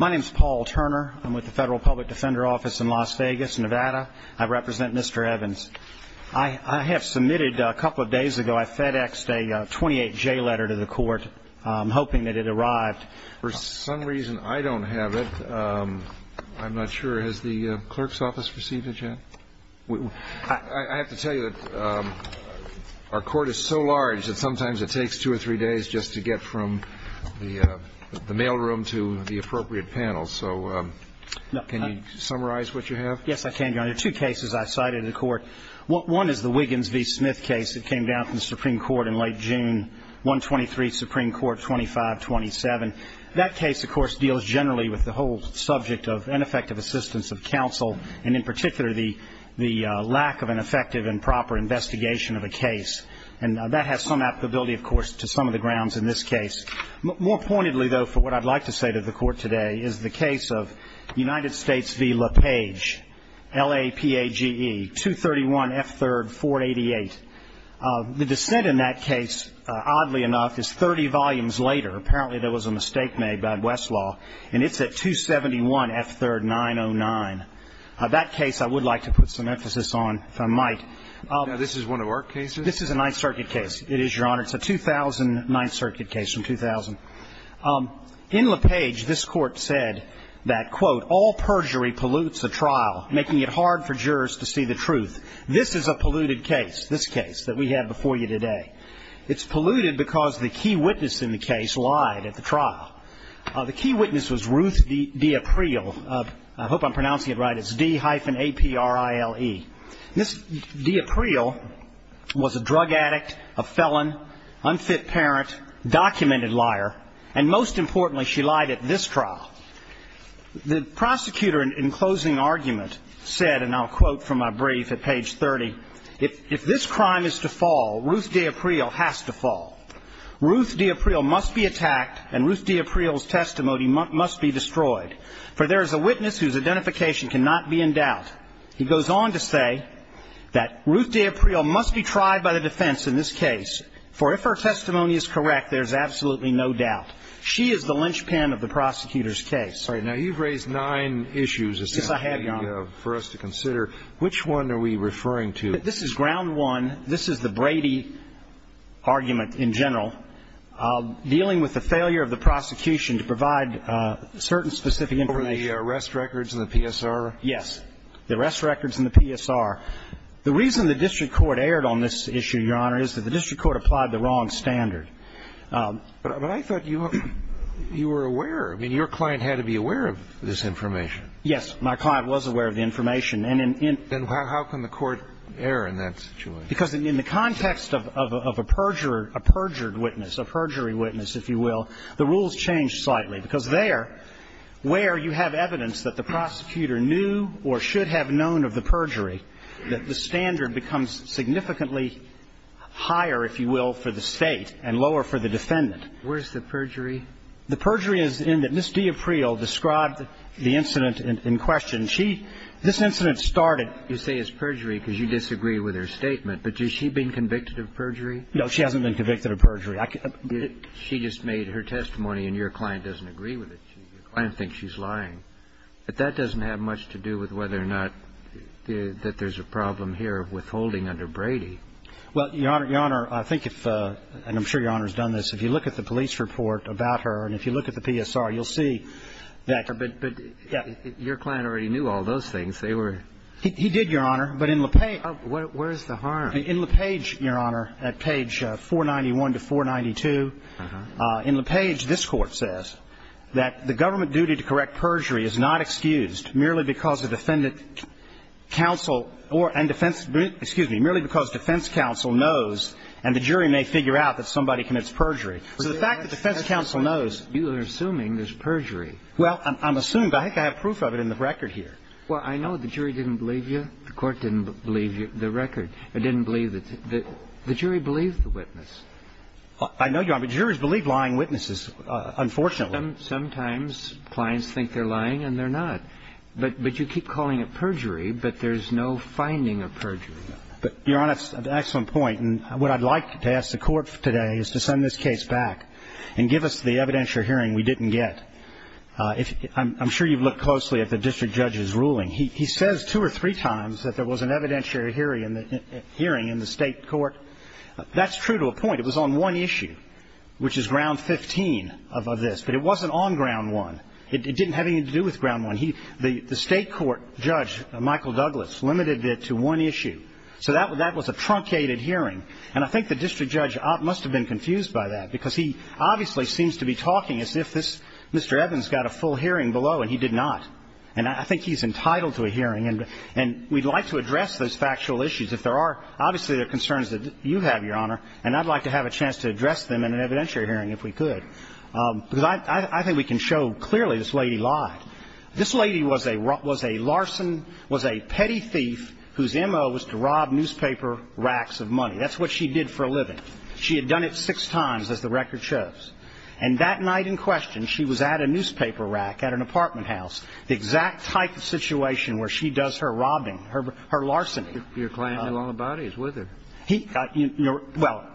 My name is Paul Turner. I'm with the Federal Public Defender Office in Las Vegas, Nevada. I represent Mr. Evans. I have submitted, a couple of days ago, I FedExed a 28J letter to the court, hoping that it arrived. For some reason, I don't have it. I'm not sure. Has the clerk's office received it yet? I have to tell you that our court is so large that sometimes it takes two or three days just to get from the mail room to the appropriate panel. So, can you summarize what you have? Yes, I can, Your Honor. Two cases I've cited in the court. One is the Wiggins v. Smith case that came down from the Supreme Court in late June, 123 Supreme Court 2527. And that case, of course, deals generally with the whole subject of ineffective assistance of counsel, and in particular, the lack of an effective and proper investigation of a case. And that has some applicability, of course, to some of the grounds in this case. More pointedly, though, for what I'd like to say to the court today, is the case of United States v. LaPage, LAPAGE, 231 F. 3rd. 488. The dissent in that case, oddly enough, is 30 volumes later. Apparently, there was a mistake made by Westlaw, and it's at 271 F. 3rd. 909. That case I would like to put some emphasis on, if I might. Now, this is one of our cases? This is a Ninth Circuit case. It is, Your Honor. It's a 2000 Ninth Circuit case from 2000. All perjury pollutes a trial, making it hard for jurors to see the truth. This is a polluted case, this case that we have before you today. It's polluted because the key witness in the case lied at the trial. The key witness was Ruth D'April. I hope I'm pronouncing it right. It's D-A-P-R-I-L-E. D'April was a drug addict, a felon, unfit parent, documented liar, and most importantly, she lied at this trial. The prosecutor, in closing argument, said, and I'll quote from my brief at page 30, if this crime is to fall, Ruth D'April has to fall. Ruth D'April must be attacked, and Ruth D'April's testimony must be destroyed, for there is a witness whose identification cannot be in doubt. He goes on to say that Ruth D'April must be tried by the defense in this case, for if her testimony is correct, there is absolutely no doubt. She is the linchpin of the prosecutor's case. All right. Now, you've raised nine issues. Yes, I have, Your Honor. For us to consider. Which one are we referring to? This is ground one. This is the Brady argument in general, dealing with the failure of the prosecution to provide certain specific information. Over the arrest records and the PSR? Yes. The arrest records and the PSR. The reason the district court erred on this issue, Your Honor, is that the district court applied the wrong standard. But I thought you were aware. I mean, your client had to be aware of this information. Yes. My client was aware of the information. And in the context of a perjured witness, a perjury witness, if you will, the rules changed slightly. Because there, where you have evidence that the prosecutor knew or should have known of the perjury, that the standard becomes significantly higher, if you will, for the State and lower for the defendant. Where's the perjury? The perjury is in that Ms. D'April described the incident in question. She – this incident started. You say it's perjury because you disagree with her statement. But has she been convicted of perjury? No, she hasn't been convicted of perjury. She just made her testimony and your client doesn't agree with it. Your client thinks she's lying. But that doesn't have much to do with whether or not that there's a problem here with holding under Brady. Well, Your Honor, I think if – and I'm sure Your Honor's done this. If you look at the police report about her and if you look at the PSR, you'll see that – But your client already knew all those things. They were – He did, Your Honor. But in LePage – Where's the harm? In LePage, Your Honor, at page 491 to 492, in LePage, this Court says that the government duty to correct perjury is not excused merely because a defendant counsel or – and defense – excuse me, merely because defense counsel knows and the jury may figure out that somebody commits perjury. So the fact that defense counsel knows – You're assuming there's perjury. Well, I'm assuming – I think I have proof of it in the record here. Well, I know the jury didn't believe you. The Court didn't believe the record. It didn't believe – the jury believed the witness. I know, Your Honor, but juries believe lying witnesses, unfortunately. Sometimes clients think they're lying and they're not. But you keep calling it perjury, but there's no finding of perjury. But, Your Honor, that's an excellent point. And what I'd like to ask the Court today is to send this case back and give us the evidentiary hearing we didn't get. I'm sure you've looked closely at the district judge's ruling. He says two or three times that there was an evidentiary hearing in the state court. That's true to a point. It was on one issue, which is Ground 15 of this. But it wasn't on Ground 1. It didn't have anything to do with Ground 1. The state court judge, Michael Douglas, limited it to one issue. So that was a truncated hearing. And I think the district judge must have been confused by that because he obviously seems to be talking as if this – Mr. Evans got a full hearing below and he did not. And I think he's entitled to a hearing. And we'd like to address those factual issues if there are – and I'd like to have a chance to address them in an evidentiary hearing if we could. Because I think we can show clearly this lady lied. This lady was a larson, was a petty thief whose MO was to rob newspaper racks of money. That's what she did for a living. She had done it six times, as the record shows. And that night in question, she was at a newspaper rack at an apartment house, the exact type of situation where she does her robbing, her larceny. Your client knew all about it. He was with her. Well,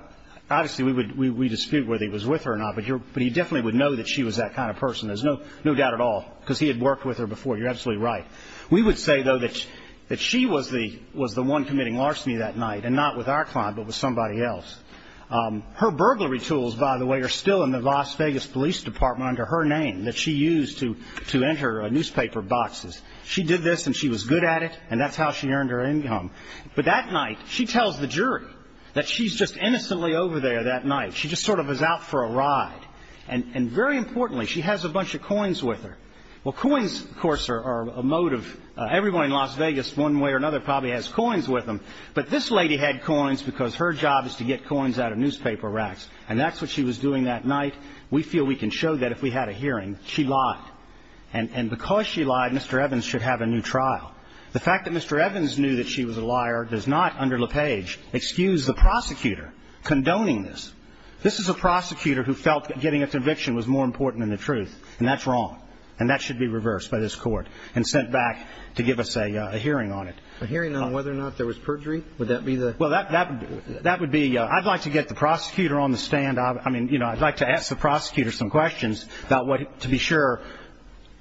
obviously we dispute whether he was with her or not, but he definitely would know that she was that kind of person. There's no doubt at all because he had worked with her before. You're absolutely right. We would say, though, that she was the one committing larceny that night and not with our client but with somebody else. Her burglary tools, by the way, are still in the Las Vegas Police Department under her name that she used to enter newspaper boxes. She did this and she was good at it, and that's how she earned her income. But that night, she tells the jury that she's just innocently over there that night. She just sort of is out for a ride. And very importantly, she has a bunch of coins with her. Well, coins, of course, are a motive. Everyone in Las Vegas, one way or another, probably has coins with them. But this lady had coins because her job is to get coins out of newspaper racks, and that's what she was doing that night. We feel we can show that if we had a hearing. She lied. And because she lied, Mr. Evans should have a new trial. The fact that Mr. Evans knew that she was a liar does not, under LePage, excuse the prosecutor condoning this. This is a prosecutor who felt getting a conviction was more important than the truth, and that's wrong, and that should be reversed by this Court and sent back to give us a hearing on it. A hearing on whether or not there was perjury? Would that be the ---- Well, that would be ---- I'd like to get the prosecutor on the stand. I mean, you know, I'd like to ask the prosecutor some questions to be sure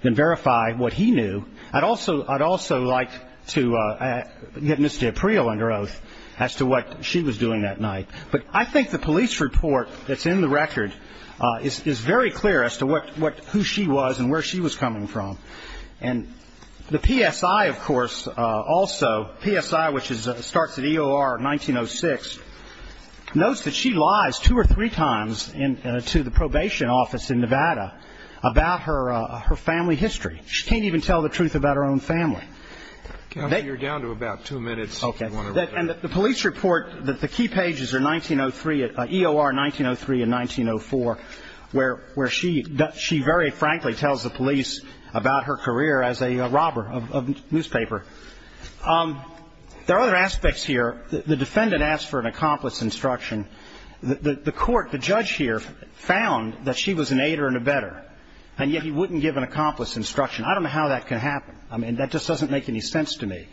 and verify what he knew. I'd also like to get Ms. D'April under oath as to what she was doing that night. But I think the police report that's in the record is very clear as to who she was and where she was coming from. And the PSI, of course, also, PSI, which starts at EOR 1906, notes that she lies two or three times to the probation office in Nevada about her family history. She can't even tell the truth about her own family. Counsel, you're down to about two minutes. Okay. And the police report that the key pages are 1903, EOR 1903 and 1904, where she very frankly tells the police about her career as a robber of newspaper. There are other aspects here. The defendant asked for an accomplice instruction. The Court, the judge here, found that she was an aider and abetter, and yet he wouldn't give an accomplice instruction. I don't know how that can happen. I mean, that just doesn't make any sense to me.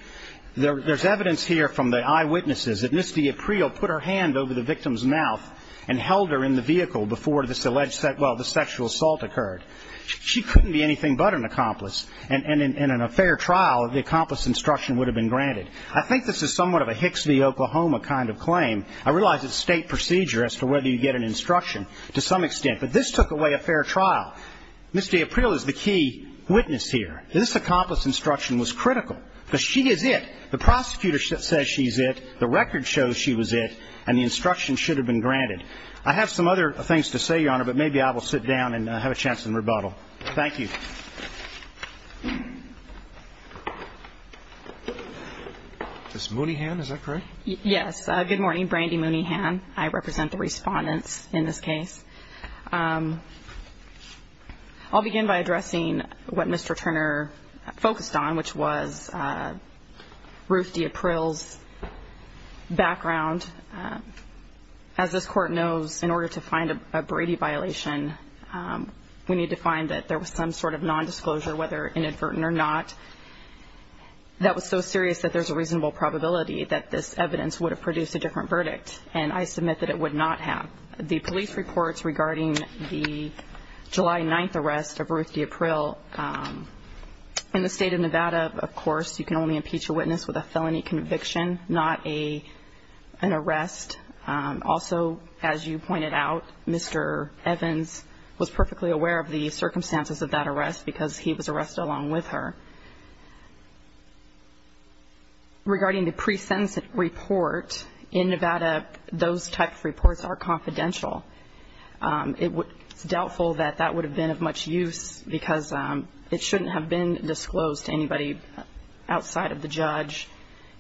There's evidence here from the eyewitnesses that Ms. D'April put her hand over the victim's mouth and held her in the vehicle before this alleged sexual assault occurred. She couldn't be anything but an accomplice, and in a fair trial the accomplice instruction would have been granted. I think this is somewhat of a Hicks v. Oklahoma kind of claim. I realize it's state procedure as to whether you get an instruction to some extent, but this took away a fair trial. Ms. D'April is the key witness here. This accomplice instruction was critical because she is it. The prosecutor says she's it, the record shows she was it, and the instruction should have been granted. I have some other things to say, Your Honor, but maybe I will sit down and have a chance to rebuttal. Thank you. Ms. Mooneyhan, is that correct? Yes. Good morning. Brandy Mooneyhan. I represent the respondents in this case. I'll begin by addressing what Mr. Turner focused on, which was Ruth D'April's background. As this Court knows, in order to find a Brady violation, we need to find that there was some sort of nondisclosure, whether inadvertent or not, that was so serious that there's a reasonable probability that this evidence would have produced a different verdict, and I submit that it would not have. The police reports regarding the July 9th arrest of Ruth D'April, in the state of Nevada, of course, you can only impeach a witness with a felony conviction, not an arrest. Also, as you pointed out, Mr. Evans was perfectly aware of the circumstances of that arrest because he was arrested along with her. Regarding the pre-sentence report, in Nevada, those types of reports are confidential. It's doubtful that that would have been of much use because it shouldn't have been disclosed to anybody outside of the judge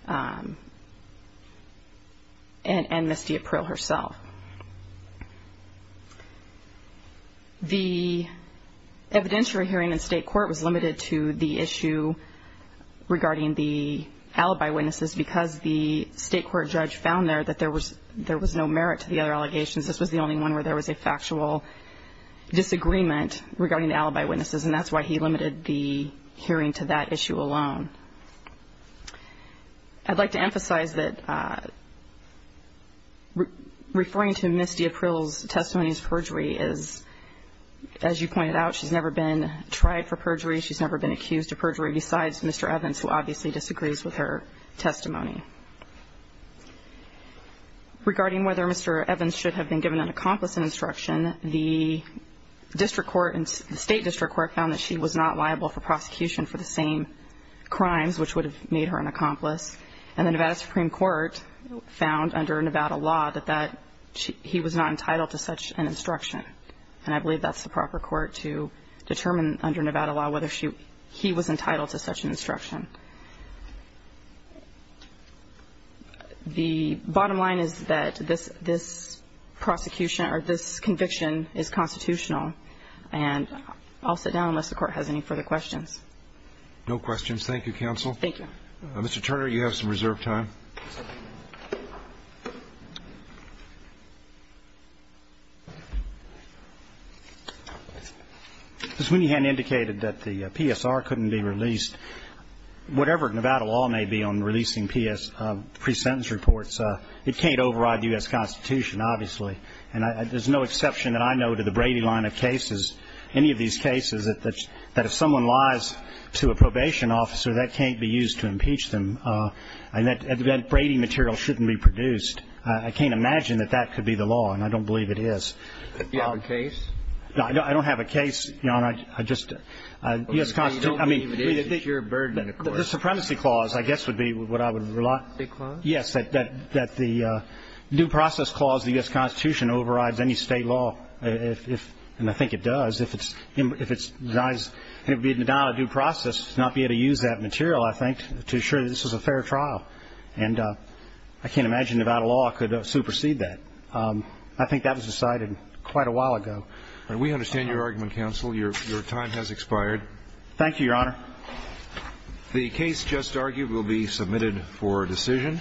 and Ms. D'April herself. The evidentiary hearing in state court was limited to the issue regarding the alibi witnesses because the state court judge found there that there was no merit to the other allegations. This was the only one where there was a factual disagreement regarding the alibi witnesses, and that's why he limited the hearing to that issue alone. I'd like to emphasize that referring to Ms. D'April's testimony as perjury is, as you pointed out, she's never been tried for perjury. She's never been accused of perjury besides Mr. Evans, who obviously disagrees with her testimony. Regarding whether Mr. Evans should have been given an accomplice in instruction, the state district court found that she was not liable for prosecution for the same crimes which would have made her an accomplice, and the Nevada Supreme Court found under Nevada law that he was not entitled to such an instruction, and I believe that's the proper court to determine under Nevada law whether he was entitled to such an instruction. The bottom line is that this prosecution or this conviction is constitutional, and I'll sit down unless the court has any further questions. No questions. Thank you, counsel. Thank you. Mr. Turner, you have some reserved time. Ms. Winnihan indicated that the PSR couldn't be released. Whatever Nevada law may be on releasing pre-sentence reports, it can't override the U.S. Constitution, obviously, and there's no exception that I know to the Brady line of cases, any of these cases that if someone lies to a probation officer, that can't be used to impeach them, and that Brady material shouldn't be produced. I can't imagine that that could be the law, and I don't believe it is. Do you have a case? No, I don't have a case, Your Honor. Well, you don't believe it is a pure burden, of course. The supremacy clause, I guess, would be what I would rely on. The state clause? Yes, that the due process clause of the U.S. Constitution overrides any state law, and I think it does. If it's denied a due process, not be able to use that material, I think, to assure that this was a fair trial, and I can't imagine Nevada law could supersede that. I think that was decided quite a while ago. We understand your argument, counsel. Your time has expired. Thank you, Your Honor. The case just argued will be submitted for decision.